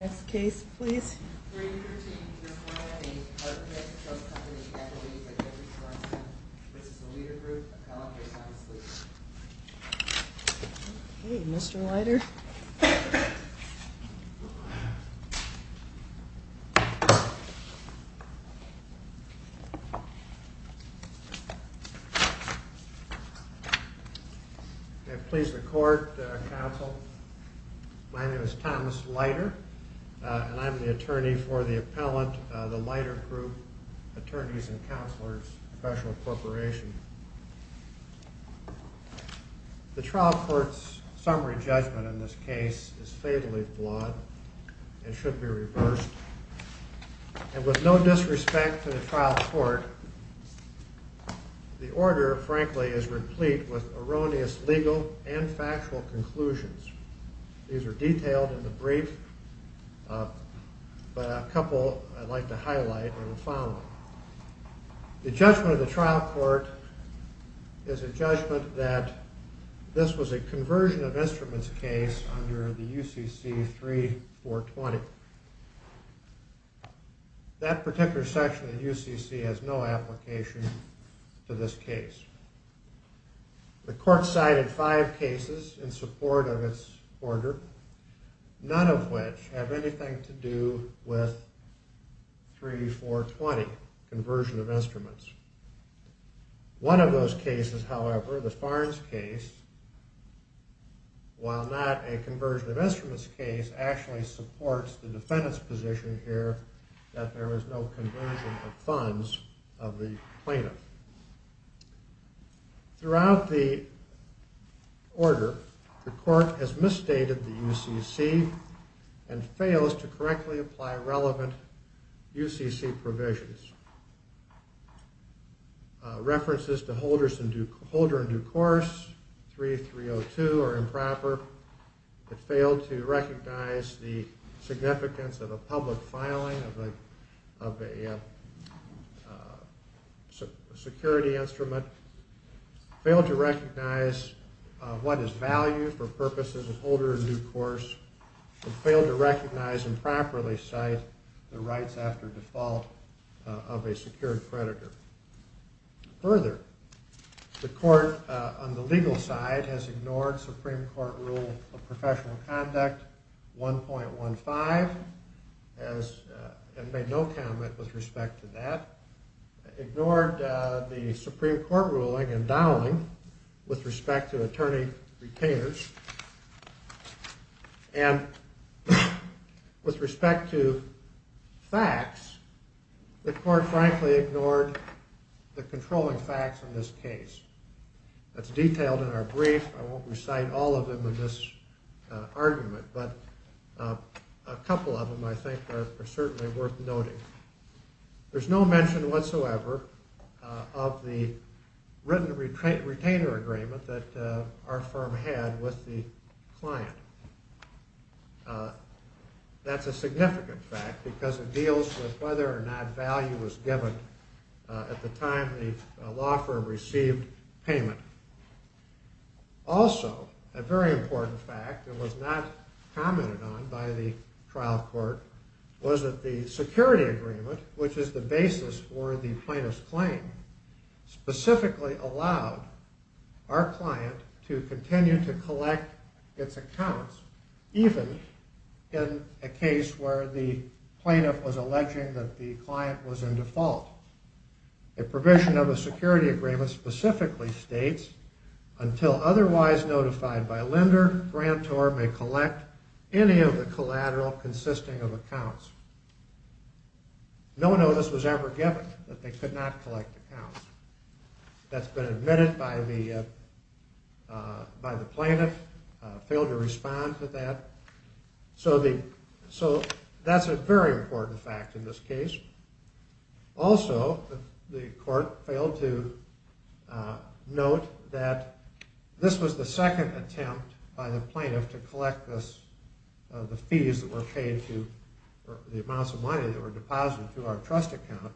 Next case please. Okay, Mr. Leiter. May it please the Court, Counsel, my name is Thomas Leiter, and I'm the attorney for the appellant, The Leiter Group, Attorneys and Counselors, Special Corporation. The trial court's summary judgment in this case is fatally flawed and should be reversed. And with no disrespect to the trial court, the order, frankly, is replete with erroneous legal and factual conclusions. These are detailed in the brief, but a couple I'd like to highlight are the following. The judgment of the trial court is a judgment that this was a conversion of instruments case under the UCC 3420. That particular section of the UCC has no application to this case. The court cited five cases in support of its order, none of which have anything to do with 3420, conversion of instruments. One of those cases, however, the Farnes case, while not a conversion of instruments case, actually supports the defendant's position here that there was no conversion of funds of the plaintiff. Throughout the order, the court has misstated the UCC and fails to correctly apply relevant UCC provisions. References to holder in due course 3302 are improper. It failed to recognize the significance of a public filing of a security instrument. It failed to recognize what is value for purposes of holder in due course. It failed to recognize and properly cite the rights after default of a secured creditor. Further, the court on the legal side has ignored Supreme Court rule of professional conduct 1.15 and made no comment with respect to that. Ignored the Supreme Court ruling endowing with respect to attorney-retainers. And with respect to facts, the court frankly ignored the controlling facts in this case. That's detailed in our brief. I won't recite all of them in this argument, but a couple of them I think are certainly worth noting. There's no mention whatsoever of the written retainer agreement that our firm had with the client. That's a significant fact because it deals with whether or not value was given at the time the law firm received payment. Also, a very important fact that was not commented on by the trial court was that the security agreement, which is the basis for the plaintiff's claim, specifically allowed our client to continue to collect its accounts even in a case where the plaintiff was alleging that the client was in default. A provision of a security agreement specifically states, until otherwise notified by lender, grantor may collect any of the collateral consisting of accounts. No notice was ever given that they could not collect accounts. That's been admitted by the plaintiff, failed to respond to that. So that's a very important fact in this case. Also, the court failed to note that this was the second attempt by the plaintiff to collect the fees that were paid to, the amounts of money that were deposited to our trust account.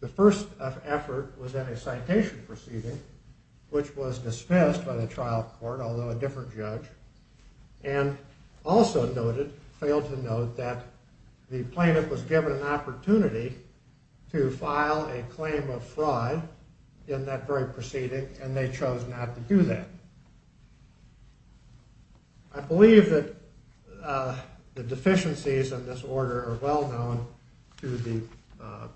The first effort was in a citation proceeding, which was dismissed by the trial court, although a different judge, and also noted, failed to note, that the plaintiff was given an opportunity to file a claim of fraud in that very proceeding, and they chose not to do that. I believe that the deficiencies in this order are well known to the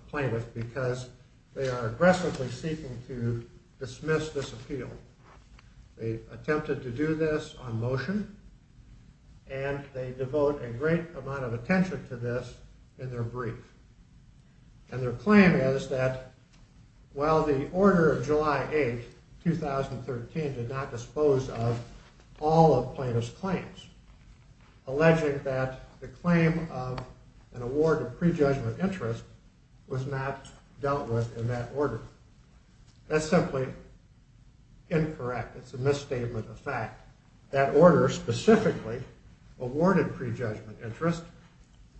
plaintiff because they are aggressively seeking to dismiss this appeal. They attempted to do this on motion, and they devote a great amount of attention to this in their brief. And their claim is that, well, the order of July 8, 2013 did not dispose of all of plaintiff's claims, alleging that the claim of an award of prejudgment interest was not dealt with in that order. That's simply incorrect. It's a misstatement of fact. That order specifically awarded prejudgment interest,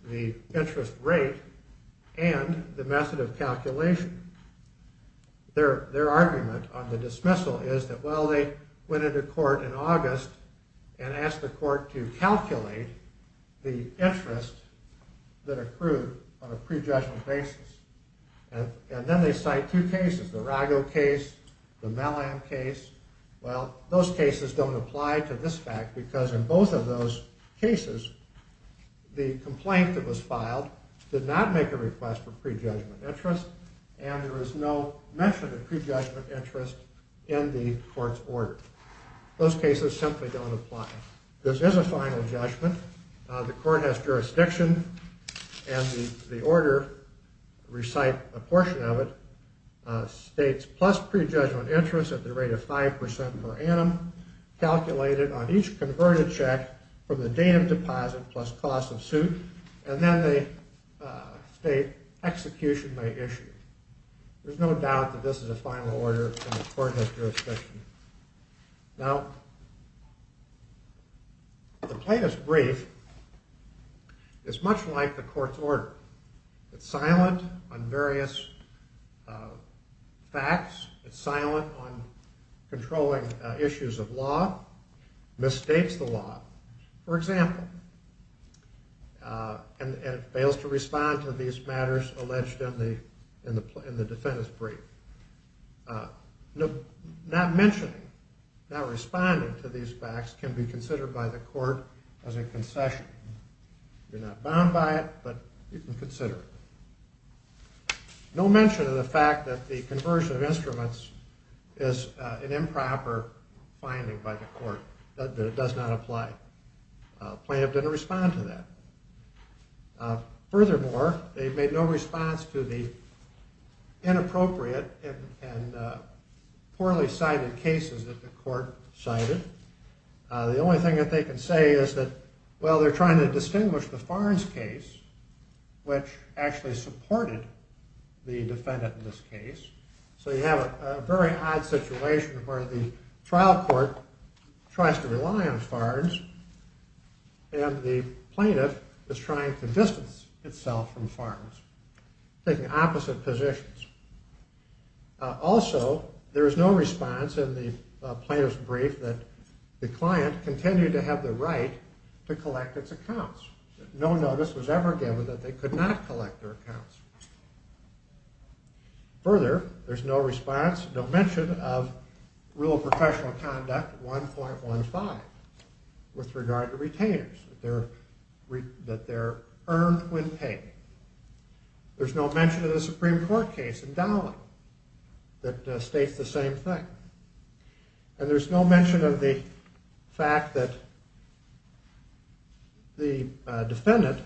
the interest rate, and the method of calculation. Their argument on the dismissal is that, well, they went into court in August and asked the court to calculate the interest that accrued on a prejudgment basis. And then they cite two cases, the Rago case, the Mallam case. Well, those cases don't apply to this fact because in both of those cases, the complaint that was filed did not make a request for prejudgment interest, and there was no mention of prejudgment interest in the court's order. Those cases simply don't apply. Now, this is a final judgment. The court has jurisdiction, and the order, recite a portion of it, states plus prejudgment interest at the rate of 5% per annum calculated on each converted check from the date of deposit plus cost of suit, and then they state execution by issue. There's no doubt that this is a final order, and the court has jurisdiction. Now, the plaintiff's brief is much like the court's order. It's silent on various facts. It's silent on controlling issues of law, misstates the law, for example, and fails to respond to these matters alleged in the defendant's brief. Not mentioning, not responding to these facts can be considered by the court as a concession. You're not bound by it, but you can consider it. No mention of the fact that the conversion of instruments is an improper finding by the court, that it does not apply. The plaintiff didn't respond to that. Furthermore, they made no response to the inappropriate and poorly cited cases that the court cited. The only thing that they can say is that, well, they're trying to distinguish the Farnes case, which actually supported the defendant in this case. So you have a very odd situation where the trial court tries to rely on Farnes, and the plaintiff is trying to distance itself from Farnes, taking opposite positions. Also, there is no response in the plaintiff's brief that the client continued to have the right to collect its accounts. No notice was ever given that they could not collect their accounts. Further, there's no response, no mention of Rule of Professional Conduct 1.15 with regard to retainers, that they're earned when paid. There's no mention of the Supreme Court case in Dowling that states the same thing. And there's no mention of the fact that the defendant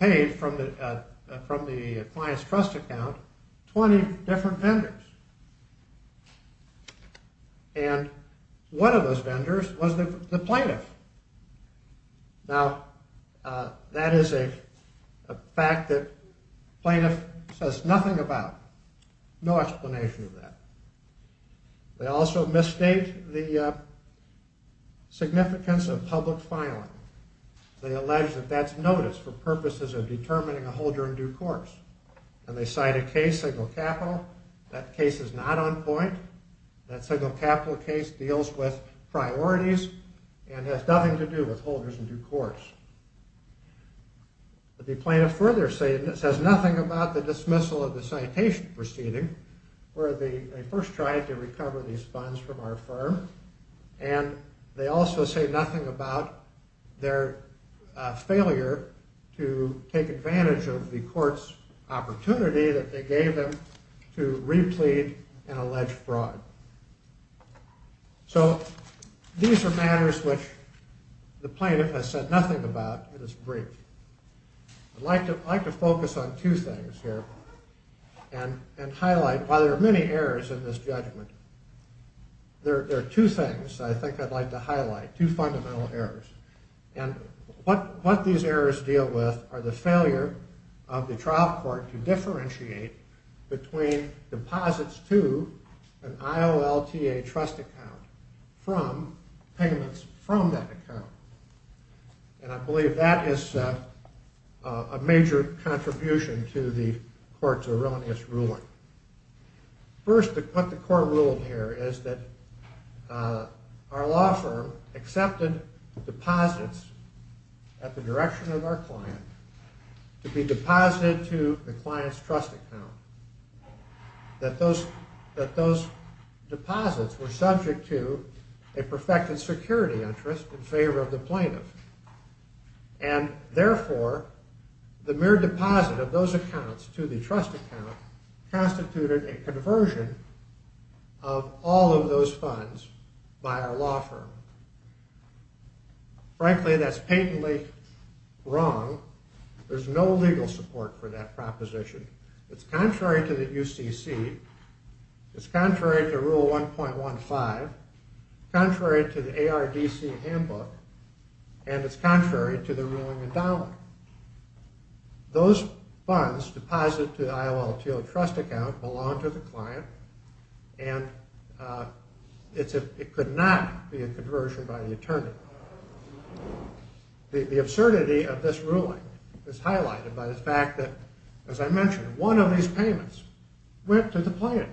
paid from the client's trust account 20 different vendors. And one of those vendors was the plaintiff. Now, that is a fact that plaintiff says nothing about. No explanation of that. They also misstate the significance of public filing. They allege that that's notice for purposes of determining a holder in due course. And they cite a case, Signal Capital. That case is not on point. That Signal Capital case deals with priorities and has nothing to do with holders in due course. The plaintiff further says nothing about the dismissal of the citation proceeding, where they first tried to recover these funds from our firm. And they also say nothing about their failure to take advantage of the court's opportunity that they gave them to replete an alleged fraud. So these are matters which the plaintiff has said nothing about in this brief. I'd like to focus on two things here and highlight, while there are many errors in this judgment, there are two things I think I'd like to highlight, two fundamental errors. And what these errors deal with are the failure of the trial court to differentiate between deposits to an IOLTA trust account from payments from that account. And I believe that is a major contribution to the court's erroneous ruling. First, what the court ruled here is that our law firm accepted deposits at the direction of our client to be deposited to the client's trust account. That those deposits were subject to a perfected security interest in favor of the plaintiff. And therefore, the mere deposit of those accounts to the trust account constituted a conversion of all of those funds by our law firm. Frankly, that's patently wrong. There's no legal support for that proposition. It's contrary to the UCC, it's contrary to Rule 1.15, contrary to the ARDC handbook, and it's contrary to the ruling endowment. Those funds deposited to the IOLTA trust account belong to the client and it could not be a conversion by the attorney. The absurdity of this ruling is highlighted by the fact that, as I mentioned, one of these payments went to the plaintiff.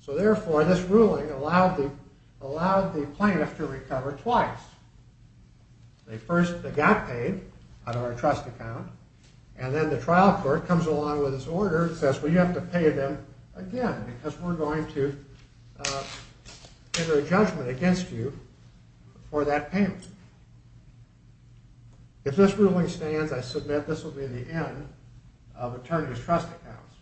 So therefore, this ruling allowed the plaintiff to recover twice. They first got paid out of our trust account, and then the trial court comes along with this order and says, well, you have to pay them again because we're going to enter a judgment against you for that payment. If this ruling stands, I submit this will be the end of attorneys' trust accounts.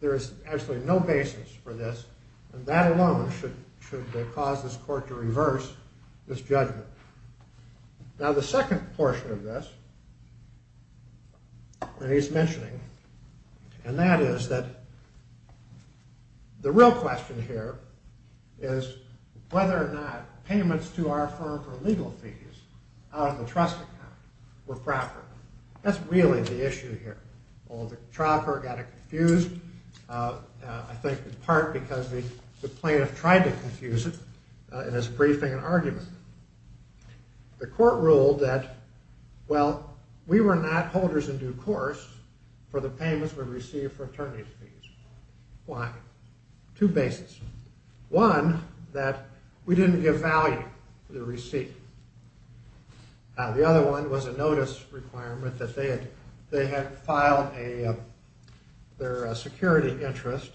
There is actually no basis for this, and that alone should cause this court to reverse this judgment. Now, the second portion of this that he's mentioning, and that is that the real question here is whether or not payments to our firm for legal fees out of the trust account were proper. That's really the issue here. Well, the trial court got it confused, I think in part because the plaintiff tried to confuse it in his briefing and argument. The court ruled that, well, we were not holders in due course for the payments we received for attorney fees. Why? Two bases. One, that we didn't give value to the receipt. The other one was a notice requirement that they had filed their security interest.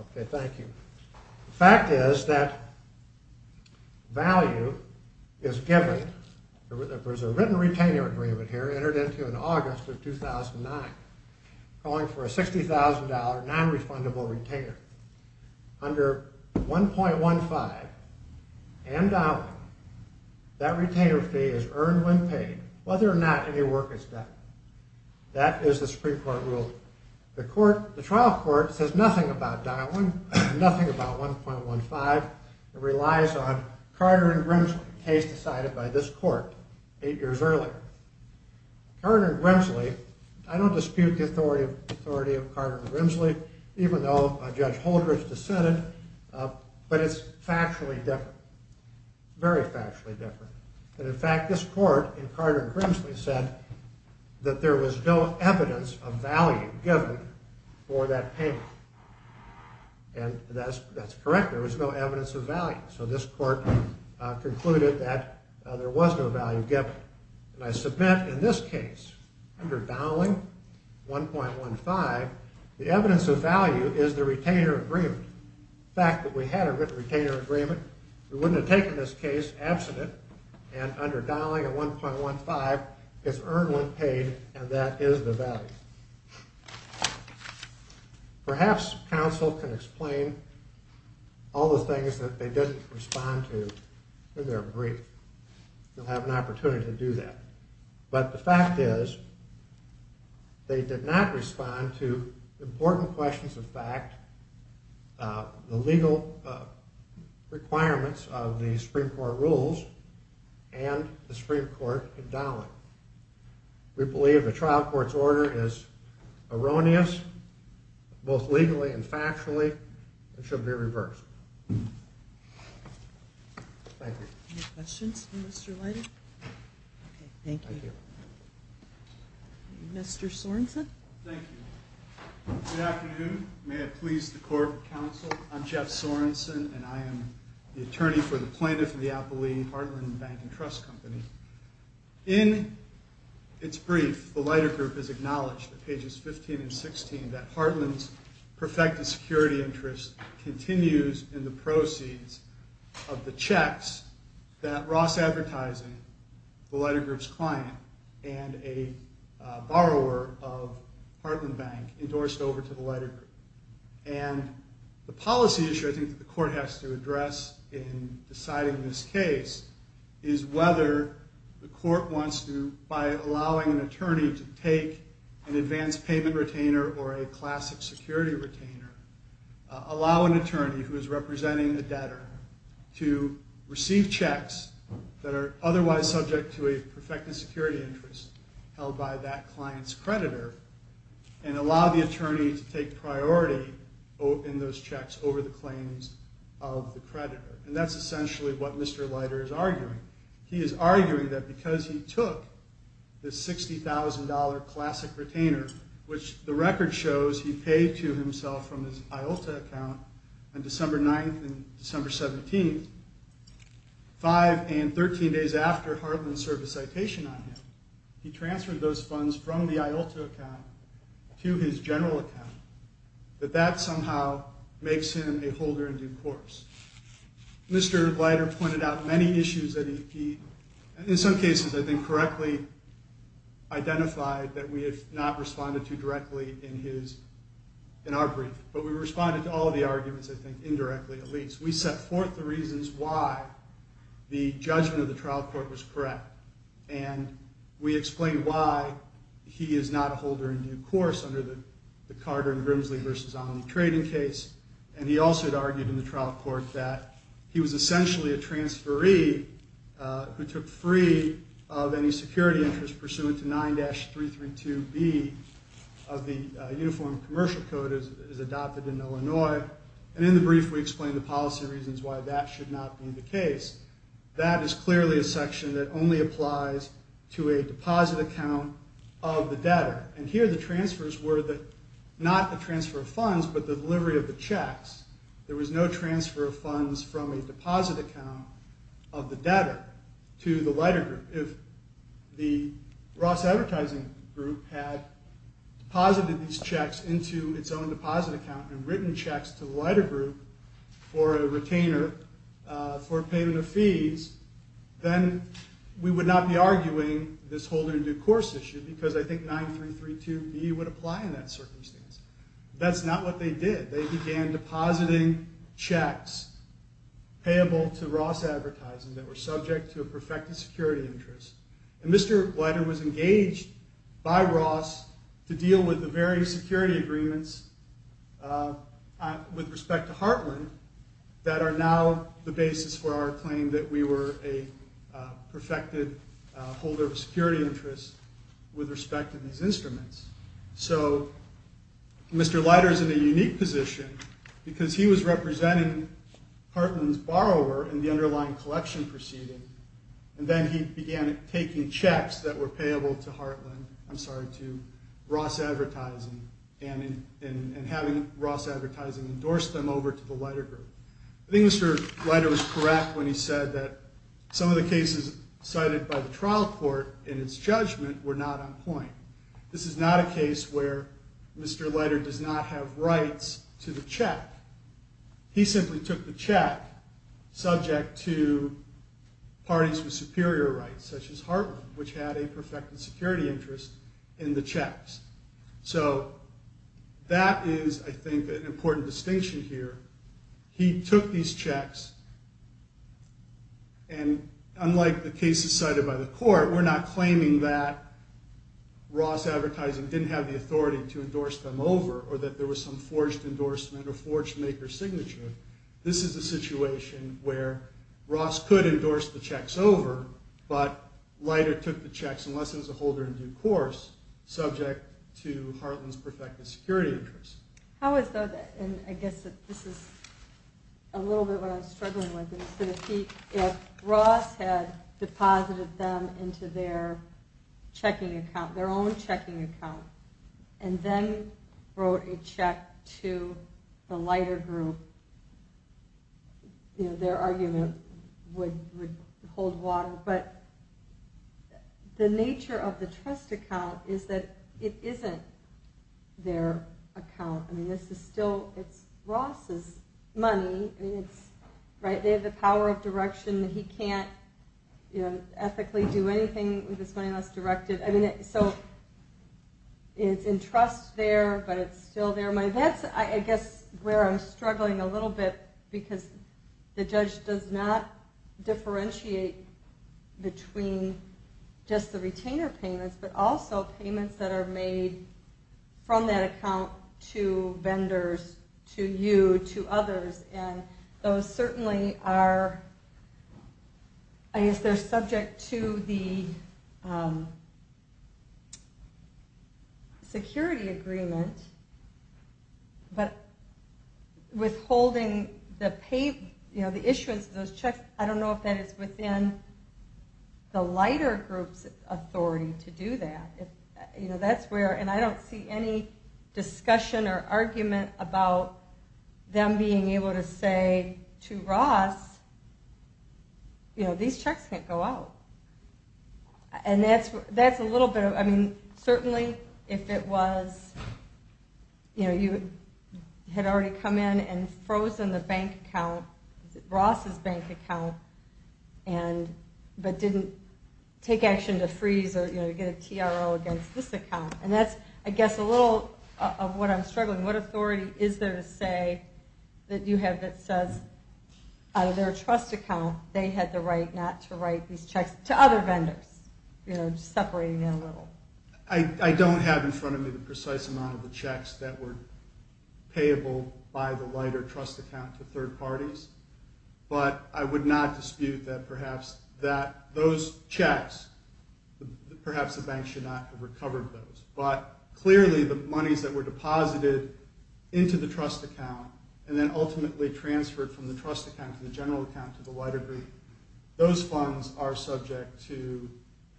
Okay, thank you. The fact is that value is given. There's a written retainer agreement here entered into in August of 2009 calling for a $60,000 nonrefundable retainer. Under 1.15 and Dowling, that retainer fee is earned when paid, whether or not any work is done. That is the Supreme Court rule. The trial court says nothing about Dowling, nothing about 1.15. It relies on Carter and Grimsley, a case decided by this court eight years earlier. Carter and Grimsley, I don't dispute the authority of Carter and Grimsley, even though Judge Holdren's dissented. But it's factually different, very factually different. In fact, this court in Carter and Grimsley said that there was no evidence of value given for that payment. And that's correct, there was no evidence of value. So this court concluded that there was no value given. And I submit in this case, under Dowling, 1.15, the evidence of value is the retainer agreement. The fact that we had a written retainer agreement, we wouldn't have taken this case, absent it. And under Dowling and 1.15, it's earned when paid, and that is the value. Perhaps counsel can explain all the things that they didn't respond to in their brief. You'll have an opportunity to do that. But the fact is, they did not respond to important questions of fact, the legal requirements of the Supreme Court rules, and the Supreme Court in Dowling. We believe the trial court's order is erroneous, both legally and factually, and should be reversed. Thank you. Any questions for Mr. Leiter? Okay, thank you. Thank you. Mr. Sorensen? Thank you. Good afternoon. May it please the Court of Counsel, I'm Jeff Sorensen, and I am the attorney for the plaintiff of the outbelieving Heartland Bank and Trust Company. In its brief, the Leiter Group has acknowledged, pages 15 and 16, that Heartland's perfected security interest continues in the proceeds of the checks that Ross Advertising, the Leiter Group's client, and a borrower of Heartland Bank endorsed over to the Leiter Group. And the policy issue I think the court has to address in deciding this case is whether the court wants to, by allowing an attorney to take an advance payment retainer or a classic security retainer, allow an attorney who is representing the debtor to receive checks that are otherwise subject to a perfected security interest held by that client's creditor, and allow the attorney to take priority in those checks over the claims of the creditor. And that's essentially what Mr. Leiter is arguing. He is arguing that because he took the $60,000 classic retainer, which the record shows he paid to himself from his IULTA account on December 9th and December 17th, five and 13 days after Heartland served a citation on him, he transferred those funds from the IULTA account to his general account, that that somehow makes him a holder in due course. Mr. Leiter pointed out many issues that he, in some cases I think, correctly identified that we have not responded to directly in our brief. But we responded to all of the arguments, I think, indirectly at least. We set forth the reasons why the judgment of the trial court was correct, and we explained why he is not a holder in due course under the Carter and Grimsley v. O'Malley trading case. And he also had argued in the trial court that he was essentially a transferee who took free of any security interest pursuant to 9-332B of the Uniform Commercial Code as adopted in Illinois. And in the brief, we explained the policy reasons why that should not be the case. That is clearly a section that only applies to a deposit account of the debtor. And here the transfers were not a transfer of funds, but the delivery of the checks. There was no transfer of funds from a deposit account of the debtor to the Leiter Group. If the Ross Advertising Group had deposited these checks into its own deposit account and written checks to the Leiter Group for a retainer for payment of fees, then we would not be arguing this holder in due course issue because I think 9-332B would apply in that circumstance. That's not what they did. They began depositing checks payable to Ross Advertising that were subject to a perfected security interest. And Mr. Leiter was engaged by Ross to deal with the various security agreements with respect to Hartland that are now the basis for our claim that we were a perfected holder of a security interest with respect to these instruments. So Mr. Leiter is in a unique position because he was representing Hartland's borrower in the underlying collection proceeding. And then he began taking checks that were payable to Ross Advertising and having Ross Advertising endorse them over to the Leiter Group. I think Mr. Leiter was correct when he said that some of the cases cited by the trial court in its judgment were not on point. This is not a case where Mr. Leiter does not have rights to the check. He simply took the check subject to parties with superior rights, such as Hartland, which had a perfected security interest in the checks. So that is, I think, an important distinction here. He took these checks, and unlike the cases cited by the court, we're not claiming that Ross Advertising didn't have the authority to endorse them over or that there was some forged endorsement or forged maker signature. This is a situation where Ross could endorse the checks over, but Leiter took the checks, unless it was a holder in due course, subject to Hartland's perfected security interest. How is that? And I guess this is a little bit what I'm struggling with. If Ross had deposited them into their checking account, their own checking account, and then wrote a check to the Leiter Group, their argument would hold water. But the nature of the trust account is that it isn't their account. It's Ross's money. They have the power of direction. He can't ethically do anything with this money unless directed. So it's in trust there, but it's still there. That's where I'm struggling a little bit, because the judge does not differentiate between just the retainer payments, but also payments that are made from that account to vendors, to you, to others. And those certainly are subject to the security agreement, but withholding the payments, the issuance of those checks, I don't know if that is within the Leiter Group's authority to do that. And I don't see any discussion or argument about them being able to say to Ross, you know, these checks can't go out. And that's a little bit of, I mean, certainly if it was, you know, you had already come in and frozen the bank account, Ross's bank account, but didn't take action to freeze or, you know, get a TRO against this account. And that's, I guess, a little of what I'm struggling. What authority is there to say that you have that says out of their trust account they had the right not to write these checks to other vendors? You know, just separating it a little. I don't have in front of me the precise amount of the checks that were payable by the Leiter trust account to third parties. But I would not dispute that perhaps that those checks, perhaps the bank should not have recovered those. But clearly the monies that were deposited into the trust account and then ultimately transferred from the trust account to the general account to the Leiter Group, those funds are subject to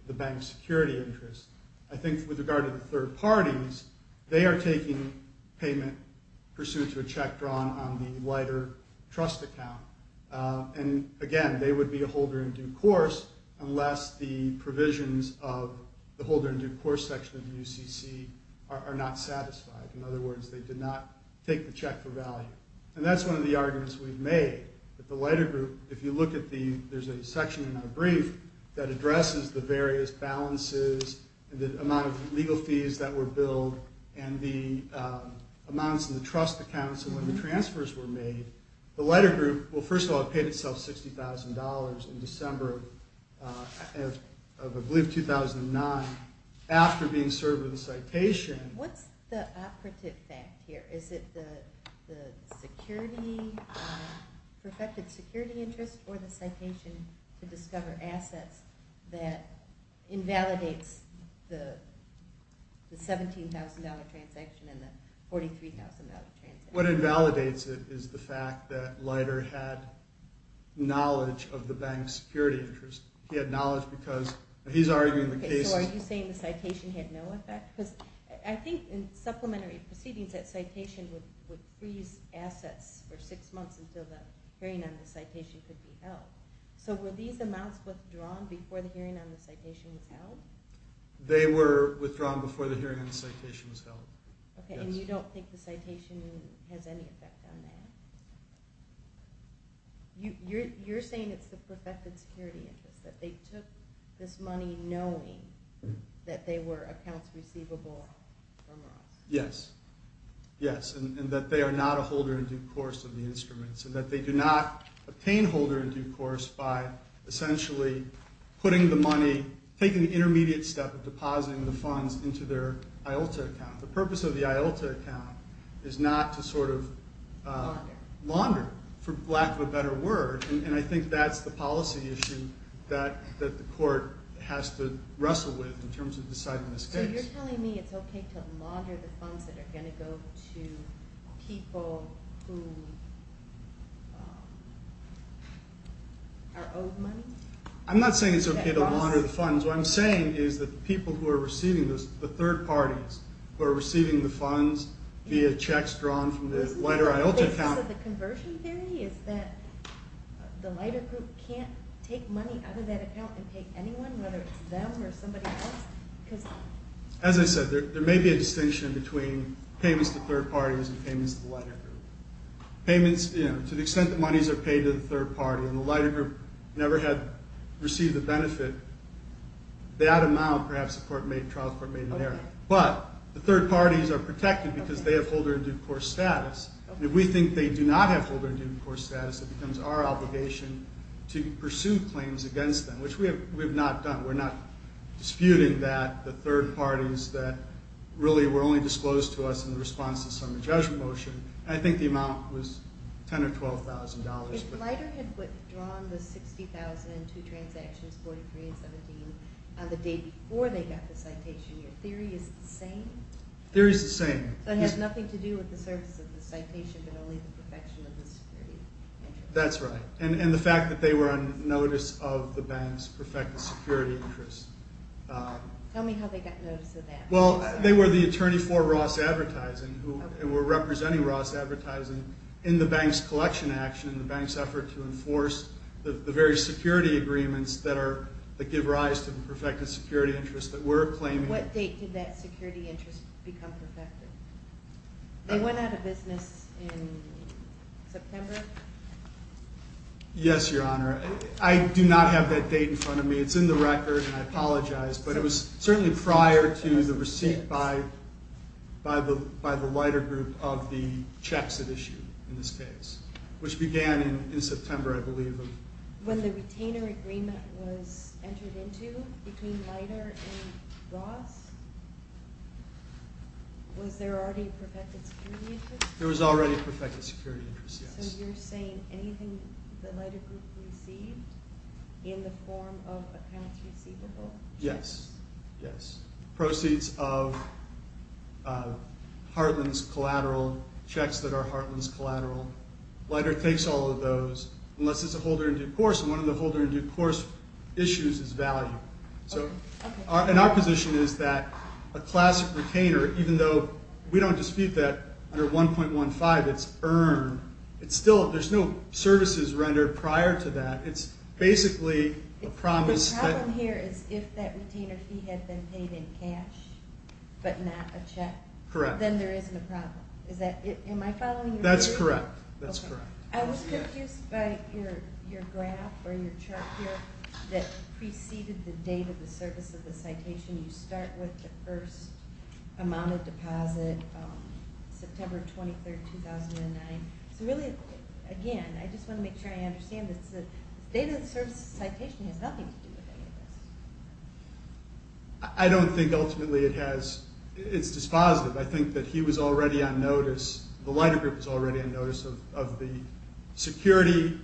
the bank's security interest. I think with regard to the third parties, they are taking payment pursuant to a check drawn on the Leiter trust account. And, again, they would be a holder in due course unless the provisions of the holder in due course section of the UCC are not satisfied. In other words, they did not take the check for value. And that's one of the arguments we've made, that the Leiter Group, if you look at the section in our brief that addresses the various balances and the amount of legal fees that were billed and the amounts in the trust accounts when the transfers were made, the Leiter Group, well, first of all, it paid itself $60,000 in December of, I believe, 2009 after being served with a citation. What's the operative fact here? Is it the security, perfected security interest or the citation to discover assets that invalidates the $17,000 transaction and the $43,000 transaction? What invalidates it is the fact that Leiter had knowledge of the bank's security interest. He had knowledge because he's arguing the cases. So are you saying the citation had no effect? Because I think in supplementary proceedings, that citation would freeze assets for six months until the hearing on the citation could be held. So were these amounts withdrawn before the hearing on the citation was held? They were withdrawn before the hearing on the citation was held. Okay, and you don't think the citation has any effect on that? You're saying it's the perfected security interest, that they took this money knowing that they were accounts receivable from Ross? Yes. Yes, and that they are not a holder in due course of the instruments and that they do not obtain holder in due course by essentially putting the money, taking the intermediate step of depositing the funds into their IOLTA account. The purpose of the IOLTA account is not to sort of launder, for lack of a better word, and I think that's the policy issue that the court has to wrestle with in terms of deciding this case. So you're telling me it's okay to launder the funds that are going to go to people who are owed money? I'm not saying it's okay to launder the funds. What I'm saying is that the people who are receiving this, the third parties who are receiving the funds via checks drawn from the Leiter IOLTA account. So the conversion theory is that the Leiter group can't take money out of that account and pay anyone, whether it's them or somebody else? As I said, there may be a distinction between payments to third parties and payments to the Leiter group. Payments, you know, to the extent that monies are paid to the third party and the Leiter group never had received a benefit, that amount perhaps the trial court made in error. But the third parties are protected because they have holder in due course status. If we think they do not have holder in due course status, it becomes our obligation to pursue claims against them, which we have not done. We're not disputing that. The third parties that really were only disclosed to us in response to some of the judgment motion, I think the amount was $10,000 or $12,000. If Leiter had withdrawn the $60,000 and two transactions, 43 and 17, on the day before they got the citation, your theory is the same? Theory is the same. It has nothing to do with the service of the citation but only the perfection of the security. That's right. And the fact that they were on notice of the bank's perfected security interests. Tell me how they got notice of that. Well, they were the attorney for Ross Advertising and were representing Ross Advertising in the bank's collection action, in the bank's effort to enforce the very security agreements that give rise to the perfected security interests that we're claiming. What date did that security interest become perfected? They went out of business in September? Yes, Your Honor. I do not have that date in front of me. It's in the record, and I apologize. But it was certainly prior to the receipt by the Leiter group of the checks it issued in this case, which began in September, I believe. When the retainer agreement was entered into between Leiter and Ross, was there already perfected security interest? There was already perfected security interest, yes. So you're saying anything the Leiter group received in the form of accounts receivable? Yes, yes. Proceeds of Heartland's collateral, checks that are Heartland's collateral. Leiter takes all of those, unless it's a holder in due course, and one of the holder in due course issues is value. And our position is that a classic retainer, even though we don't dispute that under 1.15, it's earned. There's no services rendered prior to that. It's basically a promise. The problem here is if that retainer fee had been paid in cash but not a check. Correct. Then there isn't a problem. Am I following you? That's correct. That's correct. I was confused by your graph or your chart here that preceded the date of the service of the citation. You start with the first amount of deposit, September 23, 2009. So really, again, I just want to make sure I understand this. The date of the service of the citation has nothing to do with any of this. I don't think ultimately it has. It's dispositive. I think that he was already on notice, the Leiter group was already on notice of the security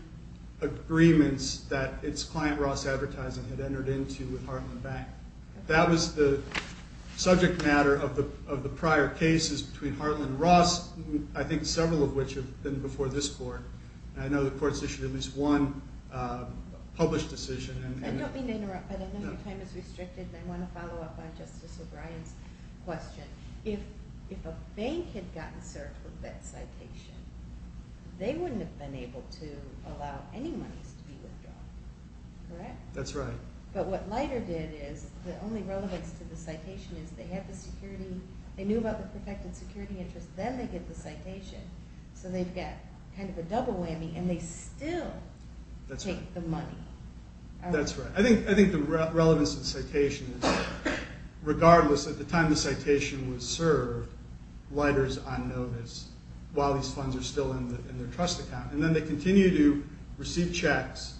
agreements that its client, Ross Advertising, had entered into with Heartland Bank. That was the subject matter of the prior cases between Heartland and Ross, I think several of which have been before this court. I know the court's issued at least one published decision. I don't mean to interrupt, but I know your time is restricted and I want to follow up on Justice O'Brien's question. If a bank had gotten served with that citation, they wouldn't have been able to allow any monies to be withdrawn. Correct? That's right. But what Leiter did is, the only relevance to the citation is they have the security. They knew about the protected security interest. Then they get the citation. So they've got kind of a double whammy and they still take the money. That's right. I think the relevance of the citation is regardless, at the time the citation was served, Leiter's on notice while these funds are still in their trust account. Then they continue to receive checks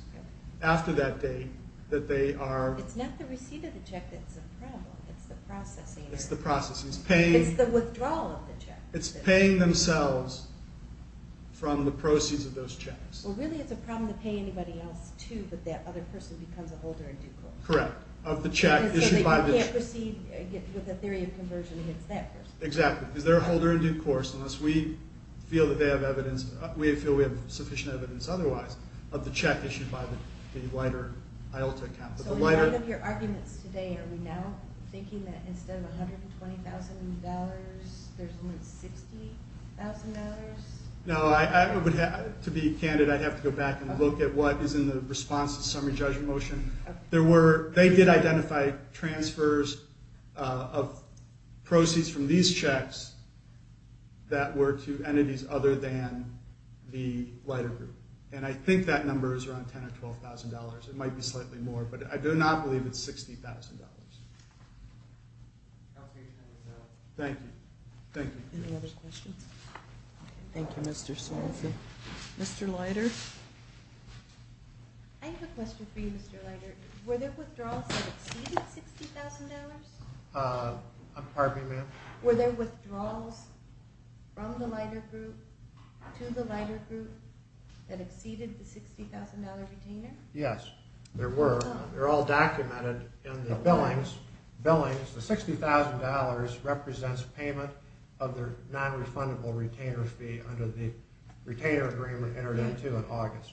after that date that they are... It's not the receipt of the check that's the problem. It's the processing. It's the processing. It's the withdrawal of the check. It's paying themselves from the proceeds of those checks. Well, really it's a problem to pay anybody else too, but that other person becomes a holder in due course. Correct. So you can't proceed with a theory of conversion against that person. Exactly. Unless we feel that they have evidence, we feel we have sufficient evidence otherwise of the check issued by the Leiter IELTS account. So in light of your arguments today, are we now thinking that instead of $120,000, there's only $60,000? No. To be candid, I'd have to go back and look at what is in the response to the summary judgment motion. They did identify transfers of proceeds from these checks that were to entities other than the Leiter group, and I think that number is around $10,000 or $12,000. It might be slightly more, but I do not believe it's $60,000. Thank you. Thank you. Any other questions? Thank you, Mr. Swanson. Mr. Leiter? I have a question for you, Mr. Leiter. Were there withdrawals that exceeded $60,000? Pardon me, ma'am? Were there withdrawals from the Leiter group to the Leiter group that exceeded the $60,000 retainer? Yes, there were. They're all documented in the billings. The $60,000 represents payment of the non-refundable retainer fee under the retainer agreement entered into in August.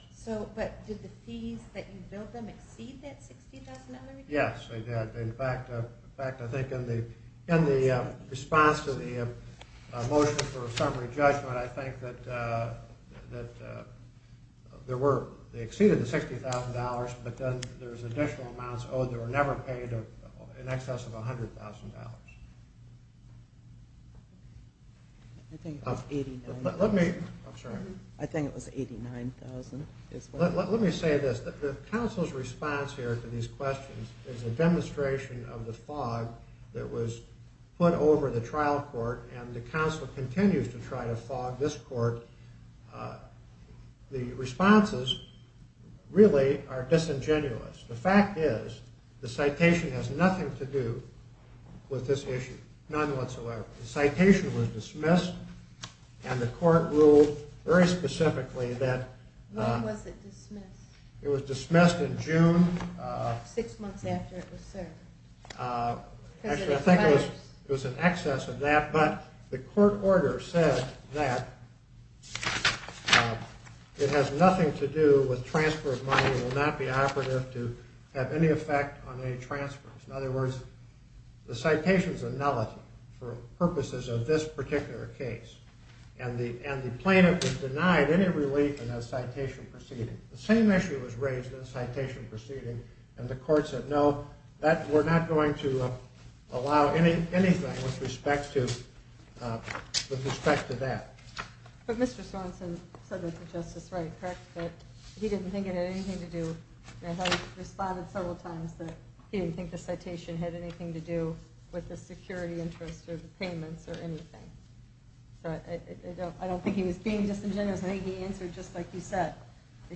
But did the fees that you billed them exceed that $60,000? Yes, they did. In fact, I think in the response to the motion for a summary judgment, I think that they exceeded the $60,000, but then there was additional amounts owed that were never paid in excess of $100,000. I think it was $89,000. I'm sorry? I think it was $89,000. Let me say this. The council's response here to these questions is a demonstration of the fog that was put over the trial court, and the council continues to try to fog this court. The responses really are disingenuous. The fact is the citation has nothing to do with this issue. None whatsoever. The citation was dismissed, and the court ruled very specifically that— When was it dismissed? It was dismissed in June. Six months after it was served. Actually, I think it was in excess of that, but the court order said that it has nothing to do with transfer of money and that it will not be operative to have any effect on any transfers. In other words, the citation's a nullity for purposes of this particular case, and the plaintiff was denied any relief in that citation proceeding. The same issue was raised in the citation proceeding, and the court said no, we're not going to allow anything with respect to that. But Mr. Sorensen said that's a justice right, correct? That he didn't think it had anything to do— I thought he responded several times that he didn't think the citation had anything to do with the security interest or the payments or anything. I don't think he was being disingenuous. I think he answered just like you said.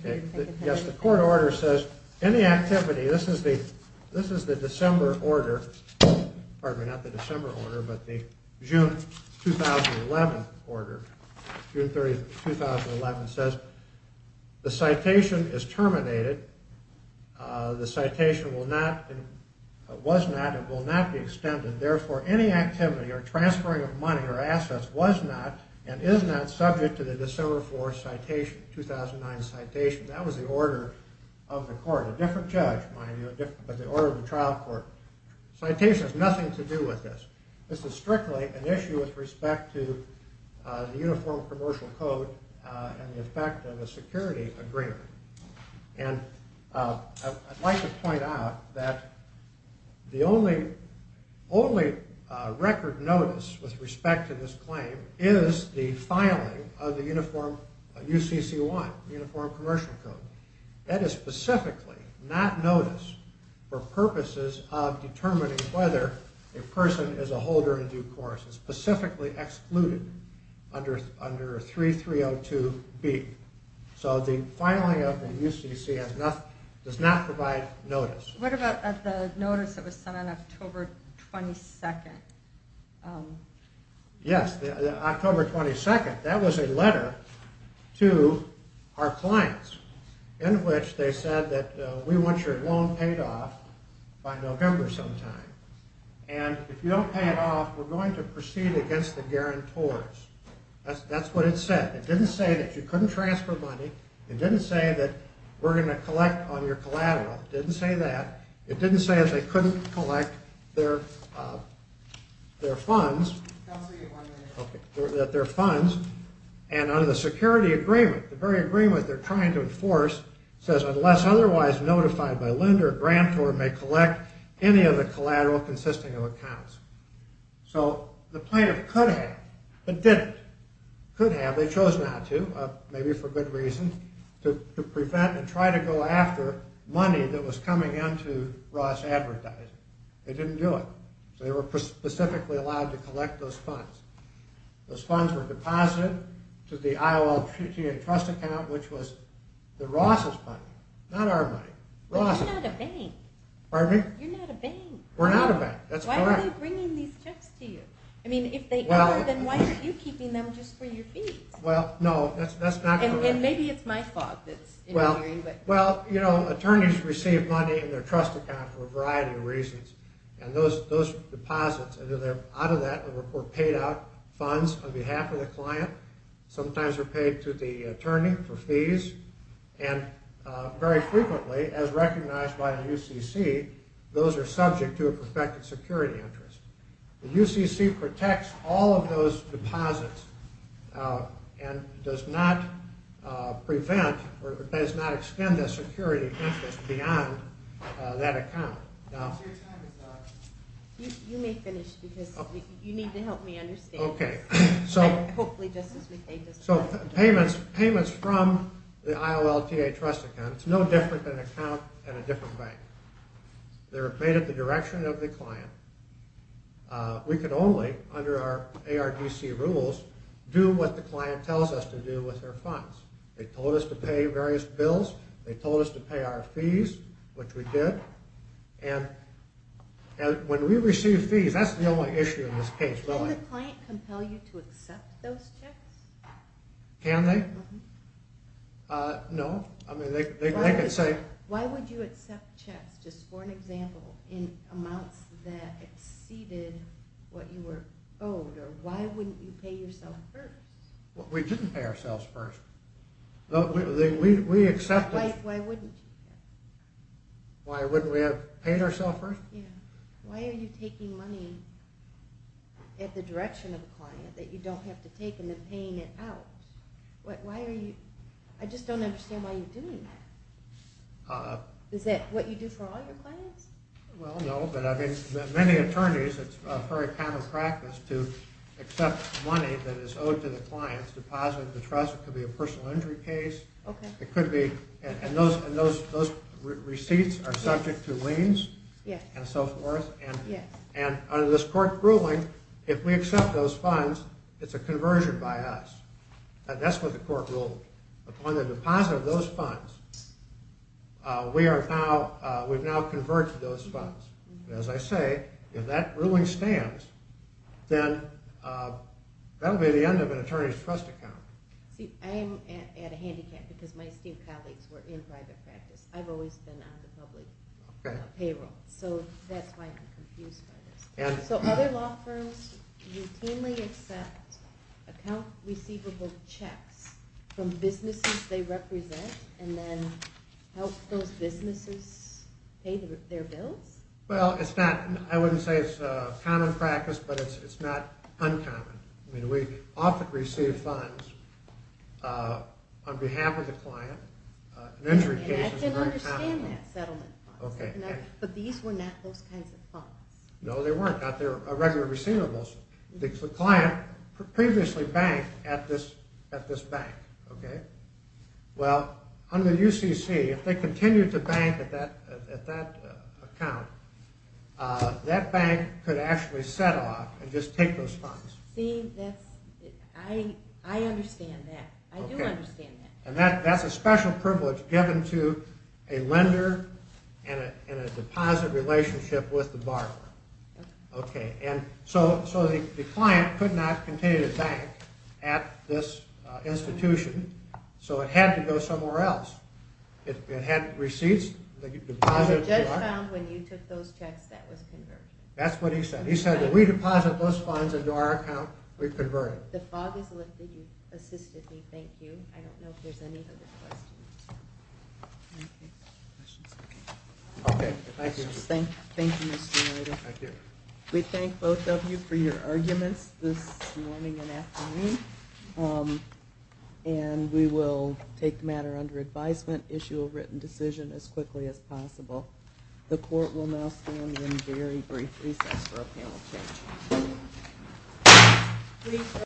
Yes, the court order says any activity—this is the December order. Pardon me, not the December order, but the June 2011 order. June 30, 2011 says the citation is terminated. The citation was not and will not be extended. Therefore, any activity or transferring of money or assets was not and is not subject to the December 4, 2009 citation. That was the order of the court. A different judge, mind you, but the order of the trial court. Citation has nothing to do with this. This is strictly an issue with respect to the Uniform Commercial Code and the effect of a security agreement. And I'd like to point out that the only record notice with respect to this claim is the filing of the Uniform—UCC-1, Uniform Commercial Code. That is specifically not noticed for purposes of determining whether a person is a holder in due course. It's specifically excluded under 3302B. So the filing of the UCC does not provide notice. What about the notice that was sent on October 22? Yes, October 22. That was a letter to our clients in which they said that we want your loan paid off by November sometime. And if you don't pay it off, we're going to proceed against the guarantors. That's what it said. It didn't say that you couldn't transfer money. It didn't say that we're going to collect on your collateral. It didn't say that. It didn't say that they couldn't collect their funds. I'll see you in one minute. That their funds, and under the security agreement, the very agreement they're trying to enforce, says unless otherwise notified by lender, grantor may collect any of the collateral consisting of accounts. So the plaintiff could have, but didn't. Could have, they chose not to, maybe for good reason, to prevent and try to go after money that was coming into Ross Advertising. They didn't do it. So they were specifically allowed to collect those funds. Those funds were deposited to the IOL Treaty and Trust Account, which was the Ross's money, not our money. But you're not a bank. Pardon me? You're not a bank. We're not a bank. That's correct. Why are they bringing these checks to you? I mean, if they are, then why aren't you keeping them just for your fees? Well, no, that's not correct. And maybe it's my fault that's interfering. Well, attorneys receive money in their trust account for a variety of reasons. And those deposits, out of that, were paid out funds on behalf of the client. Sometimes they're paid to the attorney for fees. And very frequently, as recognized by the UCC, those are subject to a prospective security interest. The UCC protects all of those deposits and does not prevent or does not extend that security interest beyond that account. Now, your time is up. You may finish because you need to help me understand. Okay. So payments from the IOLTA trust account, it's no different than an account at a different bank. They're paid at the direction of the client. We can only, under our ARDC rules, do what the client tells us to do with their funds. They told us to pay various bills. They told us to pay our fees, which we did. And when we receive fees, that's the only issue in this case, really. Can the client compel you to accept those checks? Can they? No. I mean, they can say. Why would you accept checks, just for an example, in amounts that exceeded what you were owed? Or why wouldn't you pay yourself first? We didn't pay ourselves first. We accepted. Why wouldn't you? Why wouldn't we have paid ourselves first? Why are you taking money at the direction of the client that you don't have to take and then paying it out? Why are you? I just don't understand why you're doing that. Is that what you do for all your clients? Well, no, but I mean, many attorneys, it's a very common practice to accept money that is owed to the client's deposit at the trust. It could be a personal injury case. And those receipts are subject to liens and so forth. And under this court ruling, if we accept those funds, it's a conversion by us. That's what the court ruled. Upon the deposit of those funds, we've now converged those funds. As I say, if that ruling stands, then that will be the end of an attorney's trust account. See, I am at a handicap because my esteemed colleagues were in private practice. I've always been on the public payroll, so that's why I'm confused by this. So other law firms routinely accept account receivable checks from businesses they represent and then help those businesses pay their bills? Well, I wouldn't say it's a common practice, but it's not uncommon. I mean, we often receive funds on behalf of the client in injury cases. And I can understand that, settlement funds. But these were not those kinds of funds. No, they weren't. They were regular receivables. The client previously banked at this bank, okay? Well, under UCC, if they continued to bank at that account, that bank could actually set off and just take those funds. See, I understand that. I do understand that. And that's a special privilege given to a lender in a deposit relationship with the borrower. Okay. And so the client could not continue to bank at this institution, so it had to go somewhere else. It had receipts. The judge found when you took those checks that was conversion. That's what he said. He said, if we deposit those funds into our account, we convert it. The fog has lifted. You've assisted me. Thank you. I don't know if there's any other questions. Okay. Questions? Okay. Thank you, Mr. Noida. Thank you. We thank both of you for your arguments this morning and afternoon. And we will take the matter under advisement, issue a written decision as quickly as possible. The court will now stand in very brief recess for a panel of judges.